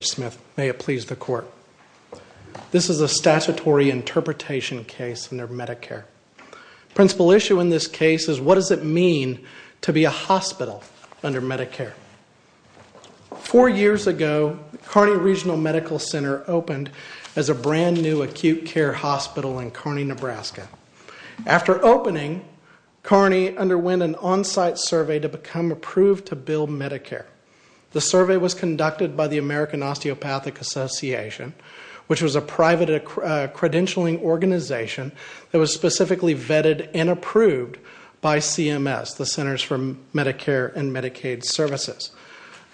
This is a statutory interpretation case under Medicare. Principal issue in this case is what does it mean to be a hospital under Medicare? Four years ago, Kearney Regional Medical Center opened as a brand new acute care hospital in Kearney, Nebraska. After opening, Kearney underwent an on-site survey to become approved to bill Medicare. The survey was conducted by the American Osteopathic Association, which was a private credentialing organization that was specifically vetted and approved by CMS, the Centers for Medicare and Medicaid Services.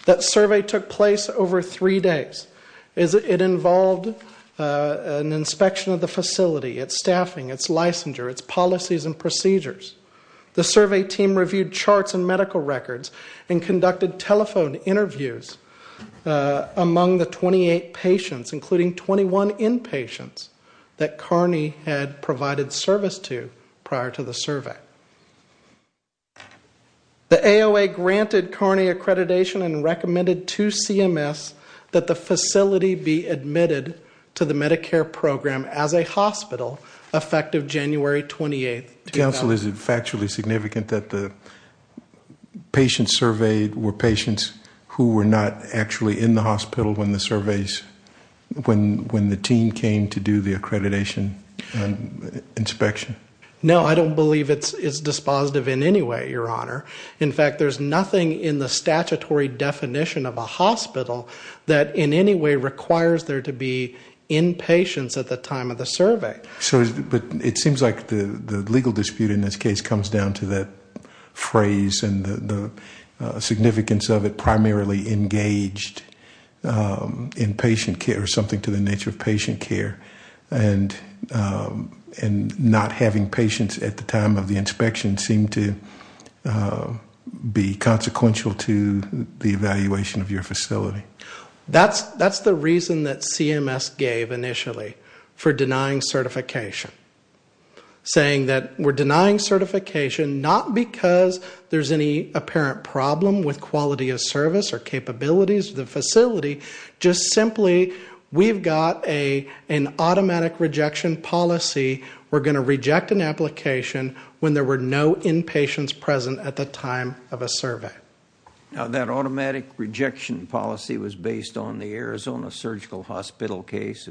That survey took place over three days. It involved an inspection of the facility, its staffing, its licensure, its policies and procedures. The survey team reviewed charts and medical records and conducted telephone interviews among the 28 patients, including 21 inpatients that Kearney had provided service to prior to the survey. The AOA granted Kearney accreditation and recommended to CMS that the facility be admitted to the Medicare program as a hospital effective January 28, 2000. Counsel, is it factually significant that the patients surveyed were patients who were not actually in the hospital when the team came to do the accreditation inspection? No, I don't believe it's dispositive in any way, Your Honor. In fact, there's nothing in the statutory definition of a hospital that in any way requires there to be inpatients at the time of the survey. But it seems like the legal dispute in this case comes down to that phrase and the significance of it primarily engaged in patient care, or something to the nature of patient care. And not having patients at the time of the inspection seemed to be consequential to the evaluation of your facility. That's the reason that CMS gave initially for denying certification. Saying that we're denying certification not because there's any apparent problem with quality of service or capabilities of the facility, just simply we've got an automatic rejection policy. We're going to reject an application when there were no inpatients present at the time of a survey. Now that automatic rejection policy was based on the Arizona Surgical Hospital case?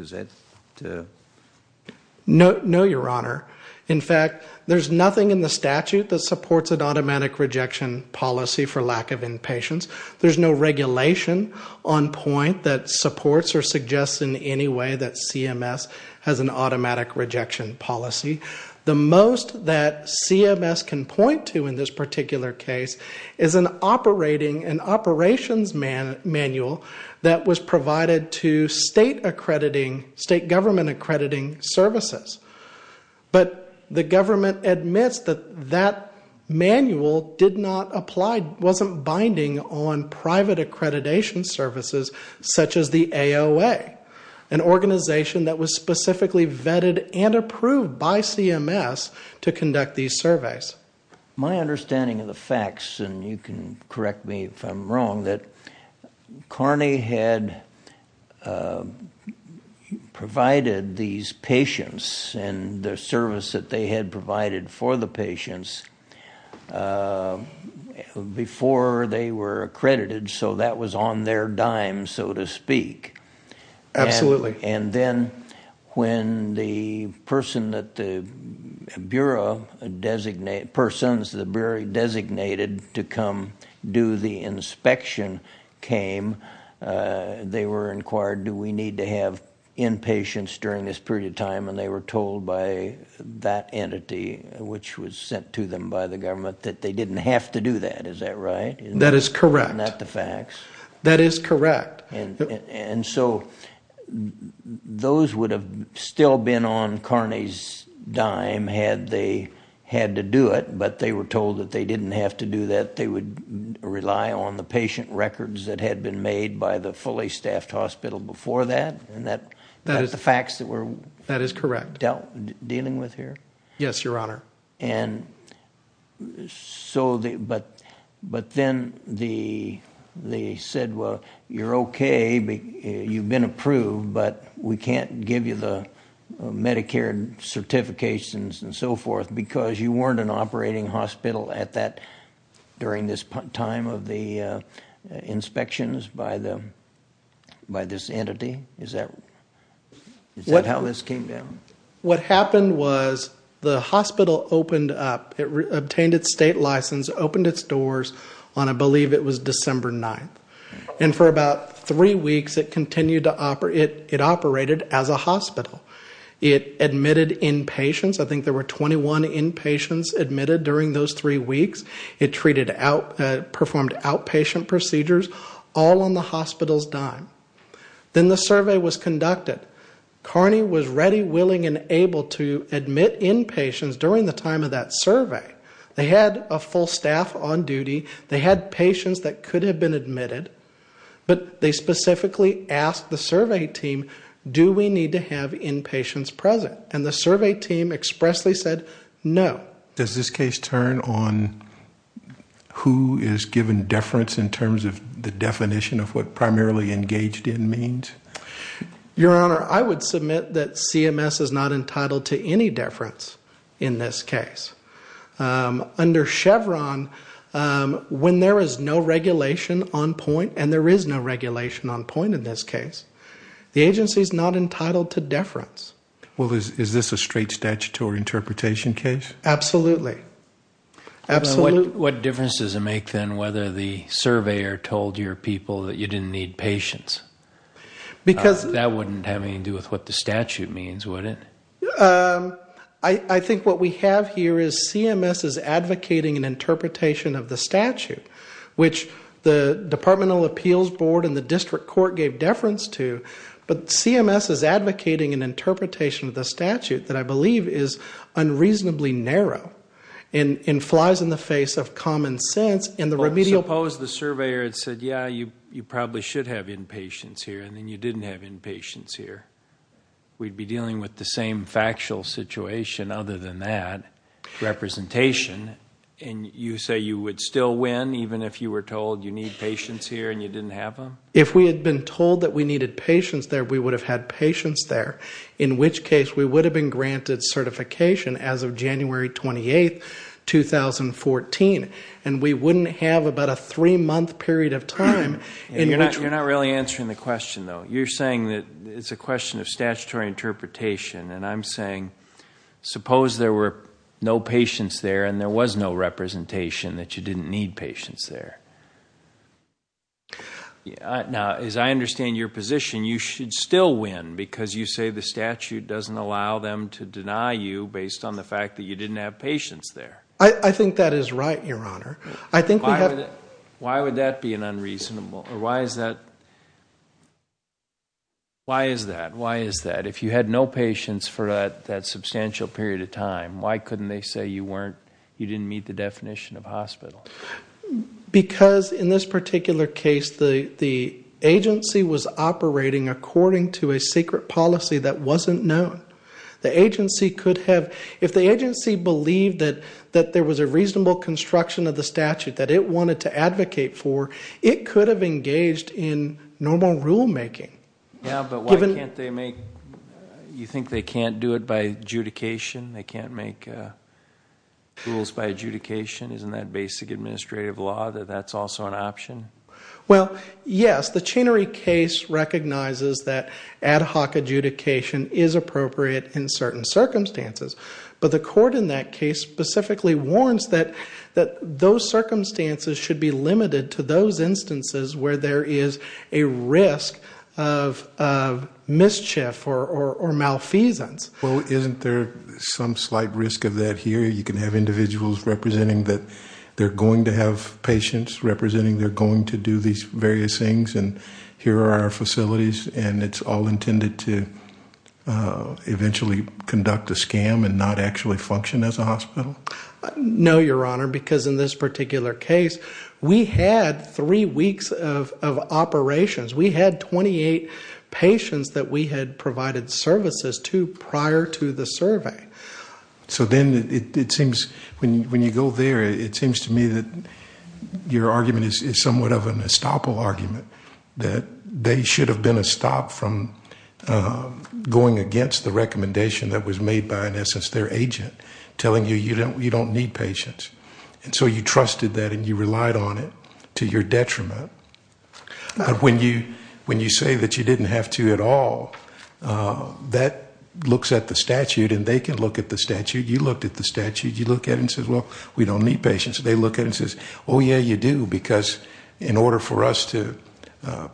No, Your Honor. In fact, there's nothing in the statute that supports an automatic rejection policy for lack of inpatients. There's no regulation on point that supports or suggests in any way that CMS has an automatic rejection policy. The most that CMS can point to in this particular case is an operations manual that was provided to state government accrediting services. But the government admits that that manual didn't apply, wasn't binding on private accreditation services such as the AOA. An organization that was specifically vetted and approved by CMS to conduct these surveys. My understanding of the facts, and you can correct me if I'm wrong, that Carney had provided these patients and the service that they had provided for the patients before they were accredited, so that was on their dime so to speak. Absolutely. And then when the person that the Bureau designated to come do the inspection came, they were inquired, do we need to have inpatients during this period of time? And they were told by that entity, which was sent to them by the government, that they didn't have to do that, is that right? That is correct. Not the facts? That is correct. And so those would have still been on Carney's dime had they had to do it, but they were told that they didn't have to do that, they would rely on the patient records that had been made by the fully staffed hospital before that? And that is the facts that we're dealing with here? That is correct. Yes, Your Honor. And so, but then they said, well, you're okay, you've been approved, but we can't give you the Medicare certifications and so forth because you weren't an operating hospital at that, during this time of the inspections by this entity? Is that how this came down? What happened was the hospital opened up. It obtained its state license, opened its doors on, I believe it was December 9th. And for about three weeks, it continued to operate. It operated as a hospital. It admitted inpatients. I think there were 21 inpatients admitted during those three weeks. It treated out, performed outpatient procedures, all on the hospital's dime. Then the survey was conducted. Carney was ready, willing, and able to admit inpatients during the time of that survey. They had a full staff on duty. They had patients that could have been admitted. But they specifically asked the survey team, do we need to have inpatients present? And the survey team expressly said, no. Does this case turn on who is given deference in terms of the definition of what primarily engaged in means? Your Honor, I would submit that CMS is not entitled to any deference in this case. Under Chevron, when there is no regulation on point, and there is no regulation on point in this case, the agency is not entitled to deference. Is this a straight statutory interpretation case? Absolutely. What difference does it make then whether the surveyor told your people that you didn't need patients? That wouldn't have anything to do with what the statute means, would it? I think what we have here is CMS is advocating an interpretation of the statute, which the Departmental Appeals Board and the District Court gave deference to. But CMS is advocating an interpretation of the statute that I believe is unreasonably narrow and flies in the face of common sense. Suppose the surveyor had said, yeah, you probably should have inpatients here, and then you didn't have inpatients here. We'd be dealing with the same factual situation other than that, representation, and you say you would still win even if you were told you need patients here and you didn't have them? If we had been told that we needed patients there, we would have had patients there, in which case we would have been granted certification as of January 28, 2014. And we wouldn't have about a three-month period of time. You're not really answering the question, though. You're saying that it's a question of statutory interpretation, and I'm saying suppose there were no patients there and there was no representation that you didn't need patients there. Now, as I understand your position, you should still win because you say the statute doesn't allow them to deny you based on the fact that you didn't have patients there. I think that is right, Your Honor. Why would that be unreasonable? Why is that? If you had no patients for that substantial period of time, why couldn't they say you didn't meet the definition of hospital? Because in this particular case the agency was operating according to a secret policy that wasn't known. The agency could have... If the agency believed that there was a reasonable construction of the statute that it wanted to advocate for, it could have engaged in normal rulemaking. Yeah, but why can't they make... You think they can't do it by adjudication? They can't make rules by adjudication? Isn't that basic administrative law that that's also an option? Well, yes. The Chinnery case recognizes that ad hoc adjudication is appropriate in certain circumstances. But the court in that case specifically warns that those circumstances should be limited to those instances where there is a risk of mischief or malfeasance. Well, isn't there some slight risk of that here? You can have individuals representing that they're going to have patients, representing they're going to do these various things, and here are our facilities, and it's all intended to eventually conduct a scam and not actually function as a hospital? No, Your Honor, because in this particular case we had 3 weeks of operations. We had 28 patients that we had provided services to prior to the survey. So then it seems, when you go there, it seems to me that your argument is somewhat of an estoppel argument, that they should have been a stop from going against the recommendation that was made by, in essence, their agent, telling you you don't need patients. And so you trusted that and you relied on it to your detriment. When you say that you didn't have to at all, that looks at the statute, and they can look at the statute. You looked at the statute. You look at it and say, well, we don't need patients. They look at it and say, oh yeah, you do, because in order for us to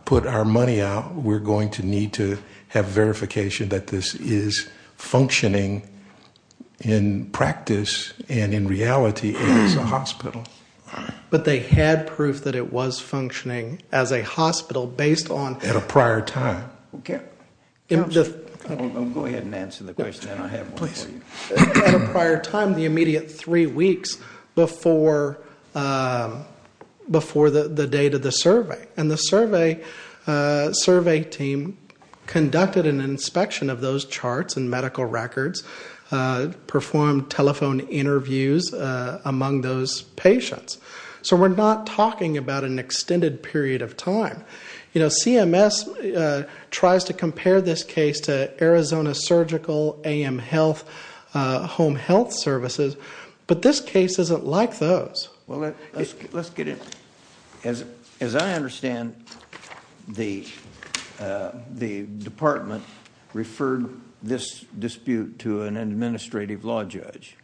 put our money out, we're going to need to have verification that this is functioning in practice and in reality as a hospital. But they had proof that it was functioning as a hospital based on... At a prior time. I'll go ahead and answer the question, and I have one for you. At a prior time, the immediate three weeks before the date of the survey. And the survey team conducted an inspection of those charts and medical records, performed telephone interviews among those patients. So we're not talking about an extended period of time. CMS tries to compare this case to Arizona Surgical, AM Health, Home Health Services, but this case isn't like those. Let's get into it. As I understand, the department referred this dispute to an administrative law judge.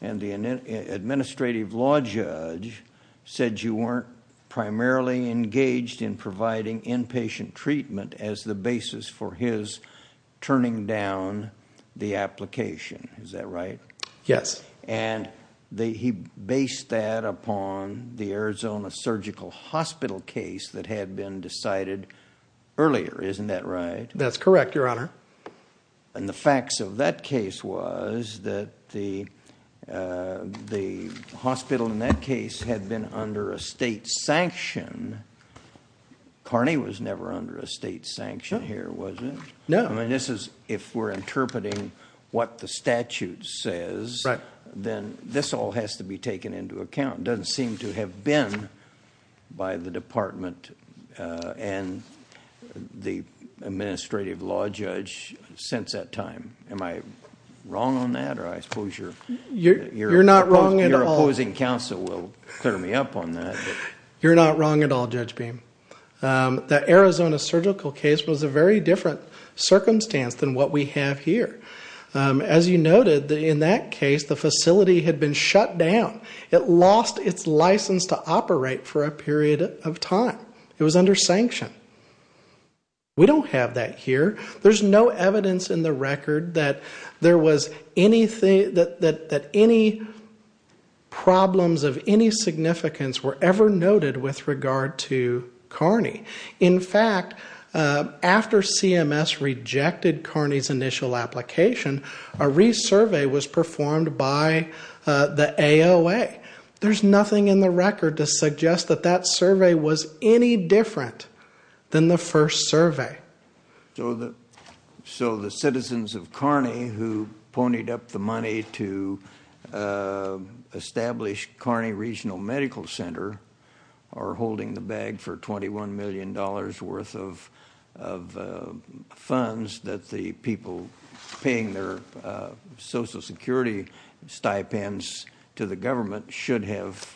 And the administrative law judge said you weren't primarily engaged in providing inpatient treatment as the basis for his turning down the application. Is that right? Yes. And he based that upon the Arizona Surgical hospital case that had been decided earlier. Isn't that right? That's correct, Your Honor. And the facts of that case was that the hospital in that case had been under a state sanction. Carney was never under a state sanction here, was he? No. If we're interpreting what the statute says, then this all has to be taken into account. It doesn't seem to have been by the department and the administrative law judge since that time. Am I wrong on that? You're not wrong at all. Your opposing counsel will clear me up on that. You're not wrong at all, Judge Beam. The Arizona Surgical case was a very different circumstance than what we have here. As you noted, in that case, the facility had been shut down. It lost its license to operate for a period of time. It was under sanction. We don't have that here. There's no evidence in the record that any problems of any significance were ever noted with regard to Carney. In fact, after CMS rejected Carney's initial application, a resurvey was performed by the AOA. There's nothing in the record to suggest that that survey was any different than the first survey. So the citizens of Carney, who ponied up the money to establish Carney Regional Medical Center, are holding the bag for $21 million worth of funds that the people paying their social security stipends to the government should have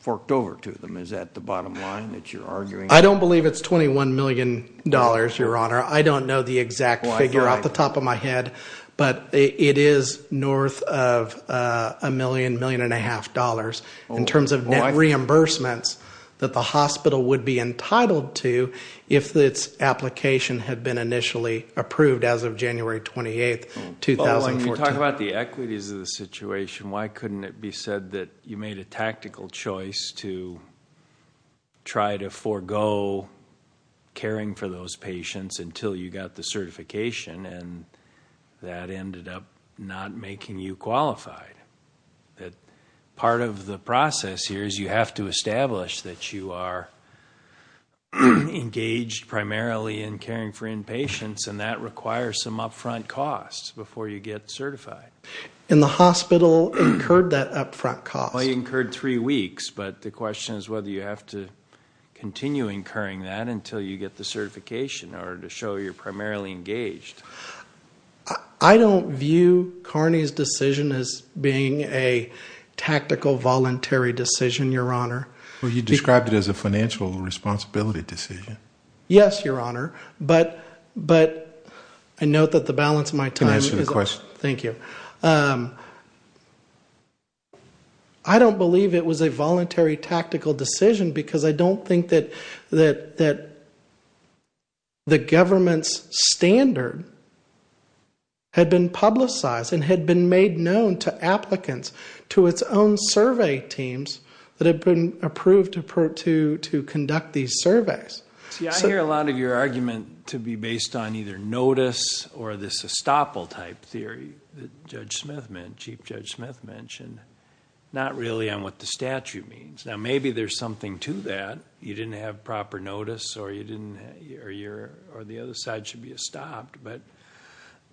forked over to them. Is that the bottom line that you're arguing? I don't believe it's $21 million, Your Honor. I don't know the exact figure off the top of my head. But it is north of a million, million and a half dollars in terms of net reimbursements that the hospital would be entitled to if its application had been initially approved as of January 28, 2014. When we talk about the equities of the situation, why couldn't it be said that you made a tactical choice to try to forego caring for those patients until you got the certification and that ended up not making you qualified? Part of the process here is you have to establish that you are engaged primarily in caring for inpatients and that requires some upfront costs before you get certified. And the hospital incurred that upfront cost? They incurred three weeks, but the question is whether you have to continue incurring that until you get the certification or to show you're primarily engaged. I don't view Carney's decision as being a tactical, voluntary decision, Your Honor. Well, you described it as a financial responsibility decision. Yes, Your Honor, but I note that the balance of my time is up. Can I ask you a question? Thank you. I don't believe it was a voluntary, tactical decision because I don't think that the government's standard had been publicized and had been made known to applicants to its own survey teams that had been approved to conduct these surveys. See, I hear a lot of your argument to be based on either notice or this estoppel-type theory that Chief Judge Smith mentioned, not really on what the statute means. Now, maybe there's something to that. You didn't have proper notice or the other side should be estopped.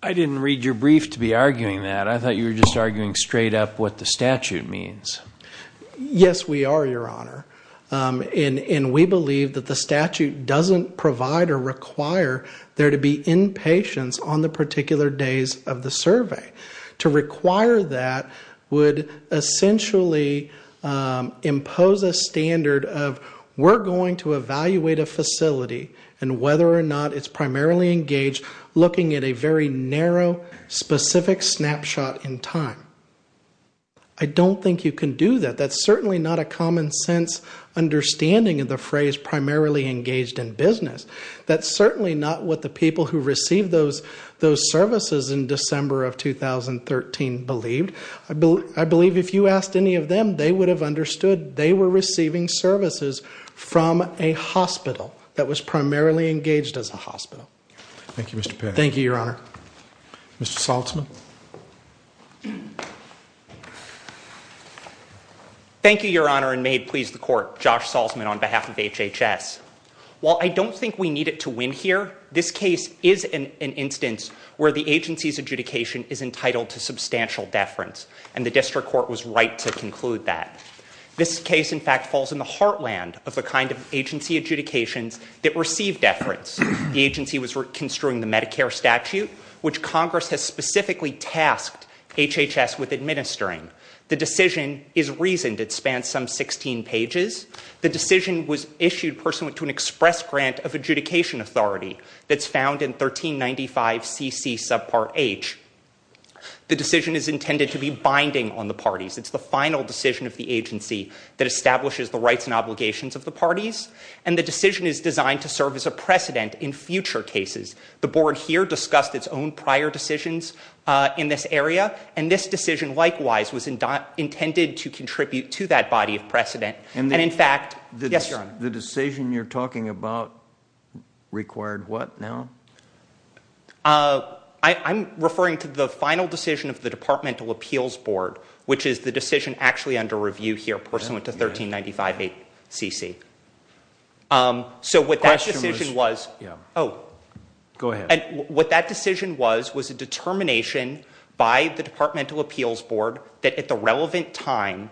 I didn't read your brief to be arguing that. I thought you were just arguing straight up what the statute means. Yes, we are, Your Honor. And we believe that the statute doesn't provide or require there to be inpatients on the particular days of the survey. To require that would essentially impose a standard of, we're going to evaluate a facility and whether or not it's primarily engaged looking at a very narrow, specific snapshot in time. I don't think you can do that. That's certainly not a common sense understanding of the phrase primarily engaged in business. That's certainly not what the people who received those services in December of 2013 believed. I believe if you asked any of them, they would have understood they were receiving services from a hospital that was primarily engaged as a hospital. Thank you, Mr. Perry. Thank you, Your Honor. Mr. Salzman. Thank you, Your Honor, and may it please the Court. Josh Salzman on behalf of HHS. While I don't think we need it to win here, this case is an instance where the agency's adjudication is entitled to substantial deference. And the district court was right to conclude that. This case, in fact, falls in the heartland of the kind of agency adjudications that receive deference. The agency was construing the Medicare statute, which Congress has specifically tasked HHS with administering. The decision is reasoned. It spans some 16 pages. The decision was issued pursuant to an express grant of adjudication authority that's found in 1395 CC subpart H. The decision is intended to be binding on the parties. It's the final decision of the agency that establishes the rights and obligations of the parties. And the decision is designed to serve as a precedent in future cases. The board here discussed its own prior decisions in this area. And this decision, likewise, was intended to contribute to that body of precedent. And, in fact... Yes, your honor. The decision you're talking about required what now? I'm referring to the final decision of the Departmental Appeals Board, which is the decision actually under review here, pursuant to 1395 CC. So what that decision was... Yeah. Oh. Go ahead. What that decision was was a determination by the Departmental Appeals Board that, at the relevant time,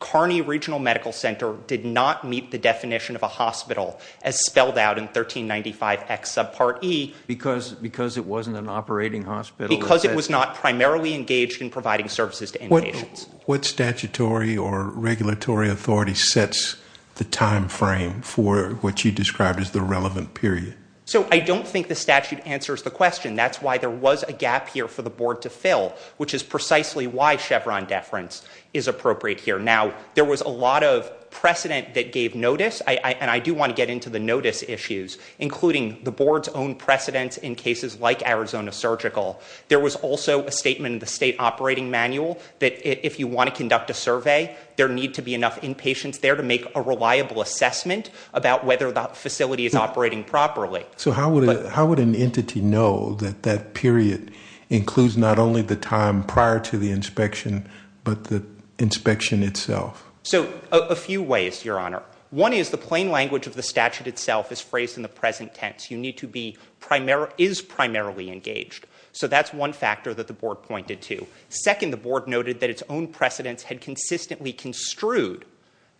Kearney Regional Medical Center did not meet the definition of a hospital, as spelled out in 1395 X subpart E. Because it wasn't an operating hospital? Because it was not primarily engaged in providing services to inpatients. What statutory or regulatory authority sets the time frame for what you described as the relevant period? So I don't think the statute answers the question. That's why there was a gap here for the board to fill, which is precisely why Chevron deference is appropriate here. Now, there was a lot of precedent that gave notice, and I do want to get into the notice issues, including the board's own precedents in cases like Arizona Surgical. There was also a statement in the state operating manual that, if you want to conduct a survey, there need to be enough inpatients there to make a reliable assessment about whether the facility is operating properly. So how would an entity know that that period includes not only the time prior to the inspection, but the inspection itself? So, a few ways, Your Honor. One is the plain language of the statute itself is phrased in the present tense. You need to be...is primarily engaged. So that's one factor that the board pointed to. Second, the board noted that its own precedents had consistently construed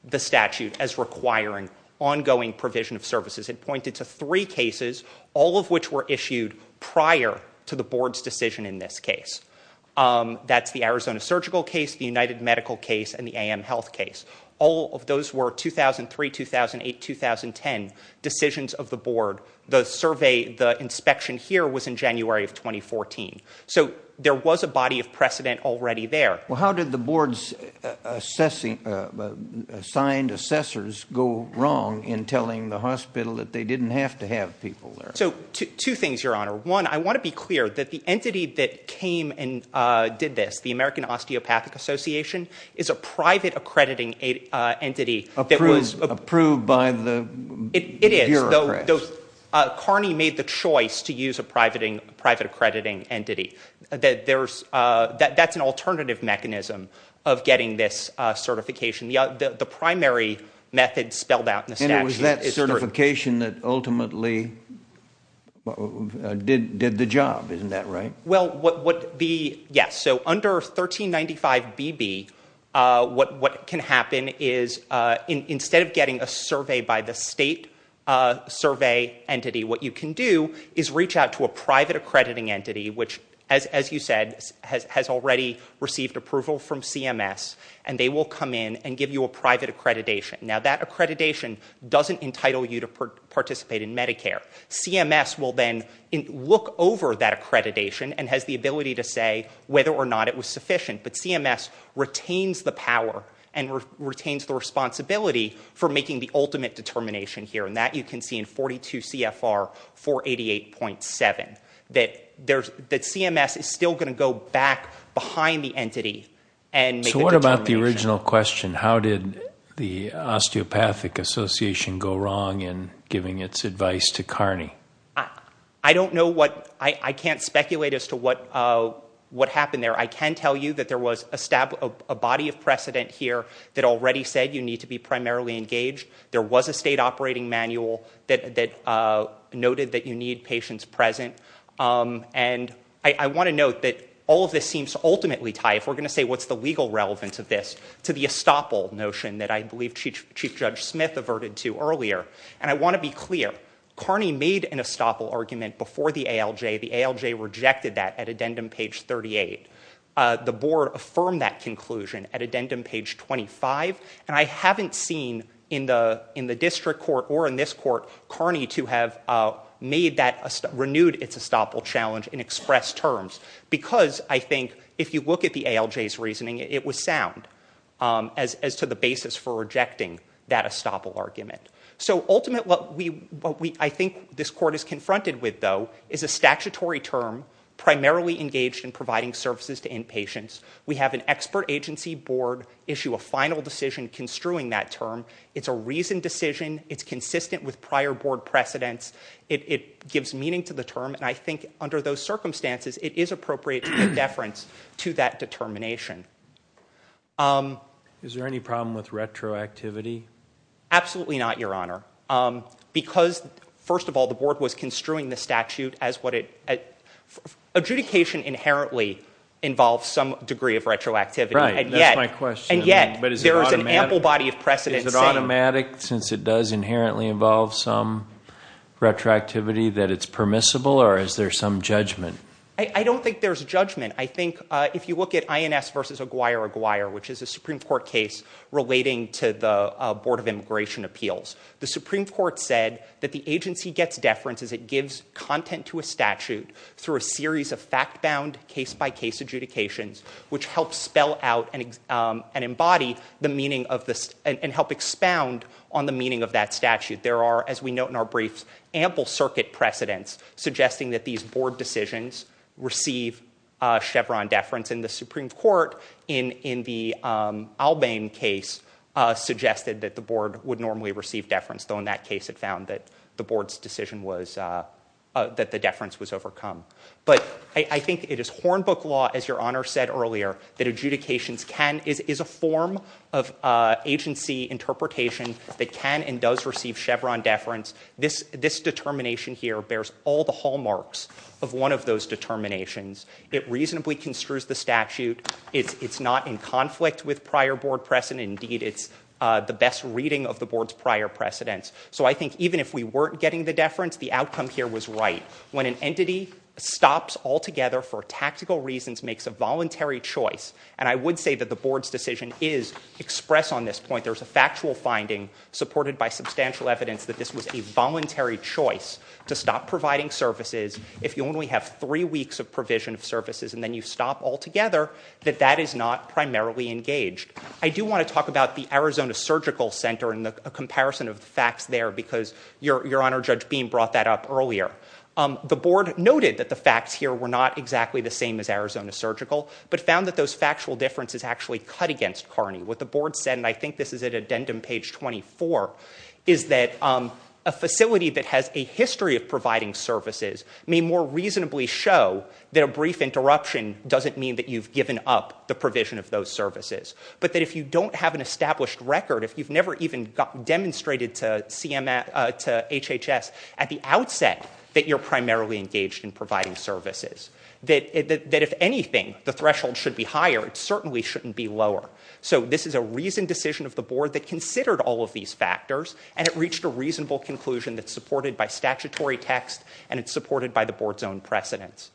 the statute as requiring ongoing provision of services. It pointed to three cases, all of which were issued prior to the board's decision in this case. That's the Arizona Surgical case, the United Medical case, and the AM Health case. All of those were 2003, 2008, 2010 decisions of the board. The survey, the inspection here was in January of 2014. So there was a body of precedent already there. Well, how did the board's assigned assessors go wrong in telling the hospital that they didn't have to have people there? So, two things, Your Honor. One, I want to be clear that the entity that came and did this, the American Osteopathic Association, is a private accrediting entity that was... Approved by the bureaucrats. So Carney made the choice to use a private accrediting entity. That's an alternative mechanism of getting this certification. The primary method spelled out in the statute is through... And it was that certification that ultimately did the job. Isn't that right? Yes. So under 1395BB, what can happen is instead of getting a survey by the state survey entity, what you can do is reach out to a private accrediting entity which, as you said, has already received approval from CMS. And they will come in and give you a private accreditation. Now that accreditation doesn't entitle you to participate in Medicare. CMS will then look over that accreditation and has the ability to say whether or not it was sufficient. But CMS retains the power and retains the responsibility for making the ultimate determination here. And that you can see in 42 CFR 488.7. That CMS is still going to go back behind the entity and make the determination. So what about the original question? How did the Osteopathic Association go wrong in giving its advice to CARNI? I don't know what... I can't speculate as to what happened there. I can tell you that there was a body of precedent here that already said you need to be primarily engaged. There was a state operating manual that noted that you need patients present. And I want to note that all of this seems to ultimately tie, if we're going to say what's the legal relevance of this, to the estoppel notion that I believe Chief Judge Smith averted to earlier. And I want to be clear. CARNI made an estoppel argument before the ALJ. The ALJ rejected that at addendum page 38. The board affirmed that conclusion at addendum page 25. And I haven't seen in the district court or in this court, CARNI to have renewed its estoppel challenge in express terms. Because I think if you look at the ALJ's reasoning, it was sound as to the basis for rejecting that estoppel argument. So ultimately what I think this court is confronted with, though, is a statutory term primarily engaged in providing services to inpatients. We have an expert agency board issue a final decision construing that term. It's a reasoned decision. It's consistent with prior board precedents. It gives meaning to the term. And I think under those circumstances, it is appropriate to give deference to that determination. Is there any problem with retroactivity? Absolutely not, Your Honor. Because, first of all, the board was construing the statute as what it- adjudication inherently involves some degree of retroactivity. Right, that's my question. And yet there is an ample body of precedent saying- Is it automatic, since it does inherently involve some retroactivity, that it's permissible, or is there some judgment? I don't think there's judgment. I think if you look at INS v. Aguirre-Aguirre, which is a Supreme Court case relating to the Board of Immigration Appeals, the Supreme Court said that the agency gets deference as it gives content to a statute through a series of fact-bound, case-by-case adjudications, which help spell out and embody the meaning of this- and help expound on the meaning of that statute. There are, as we note in our briefs, ample circuit precedents suggesting that these board decisions receive Chevron deference. And the Supreme Court, in the Albane case, suggested that the board would normally receive deference, though in that case it found that the board's decision was- that the deference was overcome. But I think it is Hornbook law, as Your Honor said earlier, that adjudications can- is a form of agency interpretation that can and does receive Chevron deference. This determination here bears all the hallmarks of one of those determinations. It reasonably construes the statute. It's not in conflict with prior board precedent. Indeed, it's the best reading of the board's prior precedents. So I think even if we weren't getting the deference, the outcome here was right. When an entity stops altogether for tactical reasons, makes a voluntary choice- and I would say that the board's decision is expressed on this point. There's a factual finding supported by substantial evidence that this was a voluntary choice to stop providing services if you only have three weeks of provision of services and then you stop altogether, that that is not primarily engaged. I do want to talk about the Arizona Surgical Center and the comparison of the facts there because Your Honor, Judge Beam brought that up earlier. The board noted that the facts here were not exactly the same as Arizona Surgical, but found that those factual differences actually cut against Carney. What the board said, and I think this is at addendum page 24, is that a facility that has a history of providing services may more reasonably show that a brief interruption doesn't mean that you've given up the provision of those services, but that if you don't have an established record, if you've never even demonstrated to HHS at the outset that you're primarily engaged in providing services, that if anything, the threshold should be higher. It certainly shouldn't be lower. So this is a reasoned decision of the board that considered all of these factors and it reached a reasonable conclusion that's supported by statutory text and it's supported by the board's own precedents.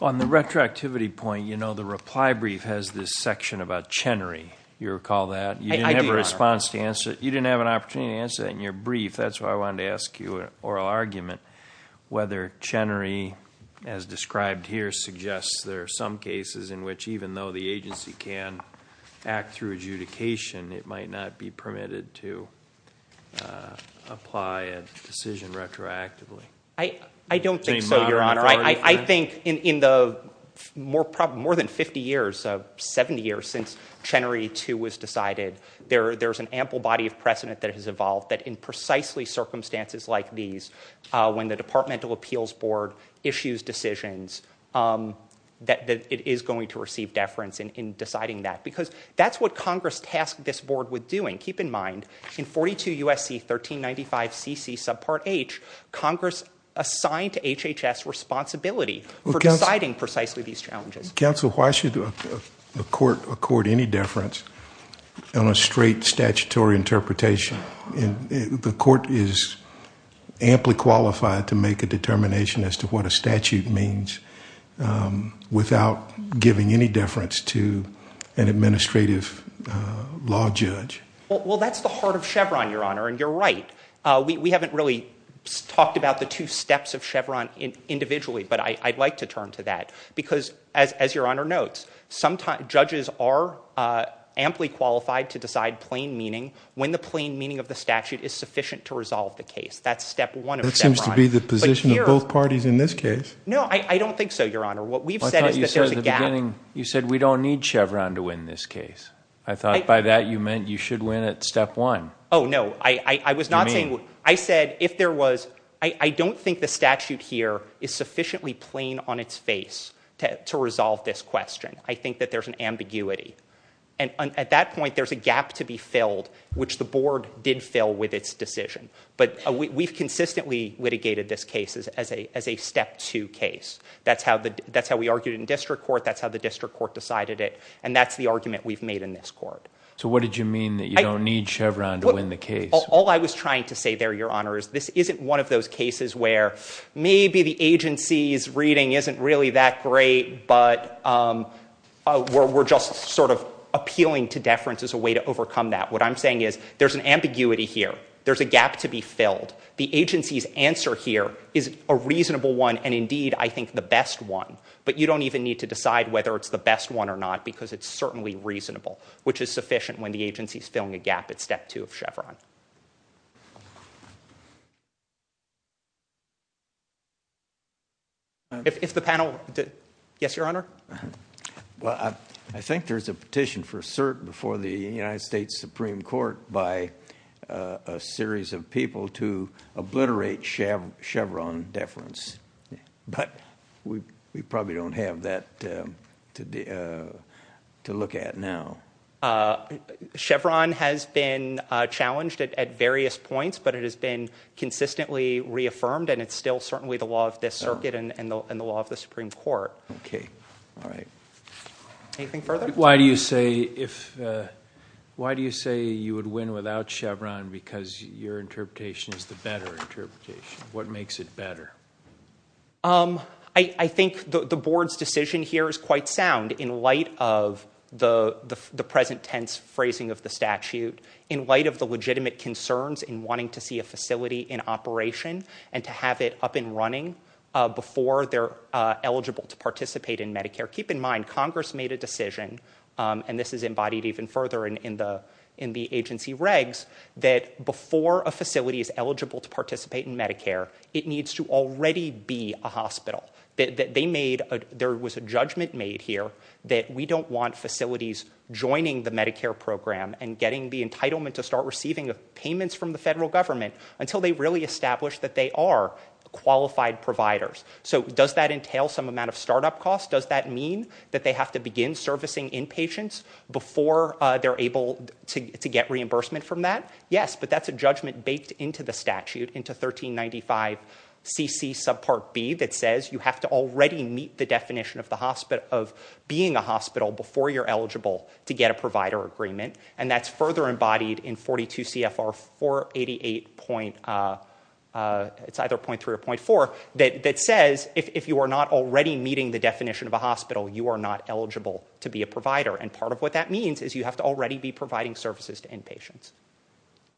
On the retroactivity point, you know the reply brief has this section about Chenery. You recall that? I do, Your Honor. You didn't have an opportunity to answer that in your brief. That's why I wanted to ask you an oral argument whether Chenery, as described here, suggests there are some cases in which even though the agency can act through adjudication, it might not be permitted to apply a decision retroactively. I don't think so, Your Honor. I think in the more than 50 years, 70 years since Chenery II was decided, there's an ample body of precedent that has evolved that in precisely circumstances like these, when the Departmental Appeals Board issues decisions, that it is going to receive deference in deciding that. Because that's what Congress tasked this board with doing. Keep in mind, in 42 U.S.C. 1395cc subpart H, Congress assigned to HHS responsibility for deciding precisely these challenges. Counsel, why should a court accord any deference on a straight statutory interpretation? The court is amply qualified to make a determination as to what a statute means without giving any deference to an administrative law judge. Well, that's the heart of Chevron, Your Honor, and you're right. We haven't really talked about the two steps of Chevron individually, but I'd like to turn to that. Because, as Your Honor notes, judges are amply qualified to decide plain meaning when the plain meaning of the statute is sufficient to resolve the case. That's step one of Chevron. That seems to be the position of both parties in this case. No, I don't think so, Your Honor. What we've said is that there's a gap. You said we don't need Chevron to win this case. I thought by that you meant you should win at step one. Oh, no, I was not saying... You mean? I said if there was... I don't think the statute here is sufficiently plain on its face to resolve this question. I think that there's an ambiguity. And at that point, there's a gap to be filled, which the board did fill with its decision. But we've consistently litigated this case as a step two case. That's how we argued in district court. That's how the district court decided it. And that's the argument we've made in this court. So what did you mean that you don't need Chevron to win the case? All I was trying to say there, Your Honor, is this isn't one of those cases where maybe the agency's reading isn't really that great, but we're just sort of appealing to deference as a way to overcome that. What I'm saying is there's an ambiguity here. There's a gap to be filled. The agency's answer here is a reasonable one and, indeed, I think the best one. But you don't even need to decide whether it's the best one or not because it's certainly reasonable, which is sufficient when the agency is filling a gap at step two of Chevron. If the panel... Yes, Your Honor. Well, I think there's a petition for cert before the United States Supreme Court by a series of people to obliterate Chevron deference. But we probably don't have that to look at now. Chevron has been challenged at various points, but it has been consistently reaffirmed, and it's still certainly the law of this circuit and the law of the Supreme Court. OK. All right. Anything further? Why do you say you would win without Chevron because your interpretation is the better interpretation? What makes it better? I think the board's decision here is quite sound in light of the present tense phrasing of the statute, in light of the legitimate concerns in wanting to see a facility in operation and to have it up and running before they're eligible to participate in Medicare. Keep in mind, Congress made a decision, and this is embodied even further in the agency regs, that before a facility is eligible to participate in Medicare, it needs to already be a hospital. There was a judgment made here that we don't want facilities joining the Medicare program and getting the entitlement to start receiving payments from the federal government until they really establish that they are qualified providers. So does that entail some amount of startup costs? Does that mean that they have to begin servicing inpatients before they're able to get reimbursement from that? Yes, but that's a judgment baked into the statute, into 1395 CC subpart B, that says you have to already meet the definition of being a hospital before you're eligible to get a provider agreement. And that's further embodied in 42 CFR 488... It's either .3 or .4, that says if you are not already meeting the definition of a hospital, you are not eligible to be a provider. And part of what that means is you have to already be providing services to inpatients.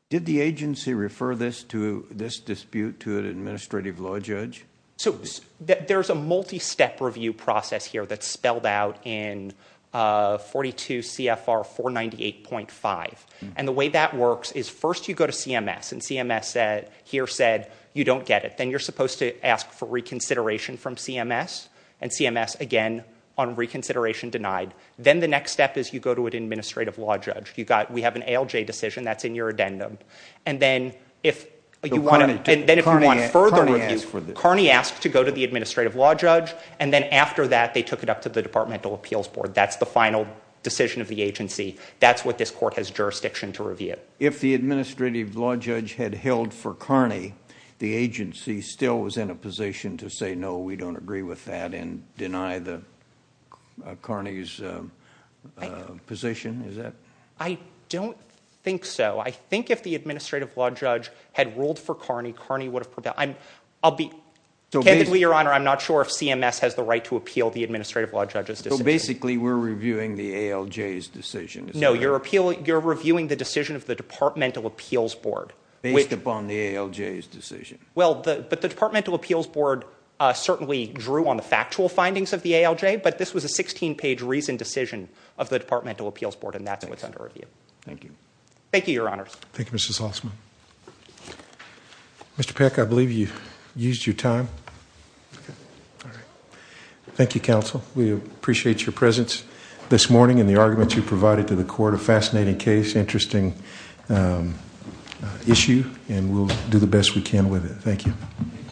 Did the agency refer this dispute to an administrative law judge? So there's a multi-step review process here that's spelled out in 42 CFR 498.5. And the way that works is first you go to CMS, and CMS here said you don't get it. Then you're supposed to ask for reconsideration from CMS, and CMS, again, on reconsideration, denied. Then the next step is you go to an administrative law judge. We have an ALJ decision that's in your addendum. And then if you want further review, Carney asked to go to the administrative law judge, and then after that they took it up to the Departmental Appeals Board. That's the final decision of the agency. That's what this court has jurisdiction to review. If the administrative law judge had held for Carney, the agency still was in a position to say, I don't think so. I think if the administrative law judge had ruled for Carney, Carney would have prevailed. Candidly, Your Honor, I'm not sure if CMS has the right to appeal the administrative law judge's decision. So basically we're reviewing the ALJ's decision. No, you're reviewing the decision of the Departmental Appeals Board. Based upon the ALJ's decision. Well, but the Departmental Appeals Board certainly drew on the factual findings of the ALJ, but this was a 16-page reasoned decision of the Departmental Appeals Board, and that's what's under review. Thank you. Thank you, Your Honors. Thank you, Mr. Salzman. Mr. Peck, I believe you used your time. Okay. All right. Thank you, counsel. We appreciate your presence this morning and the arguments you provided to the court. A fascinating case, interesting issue, and we'll do the best we can with it. Thank you.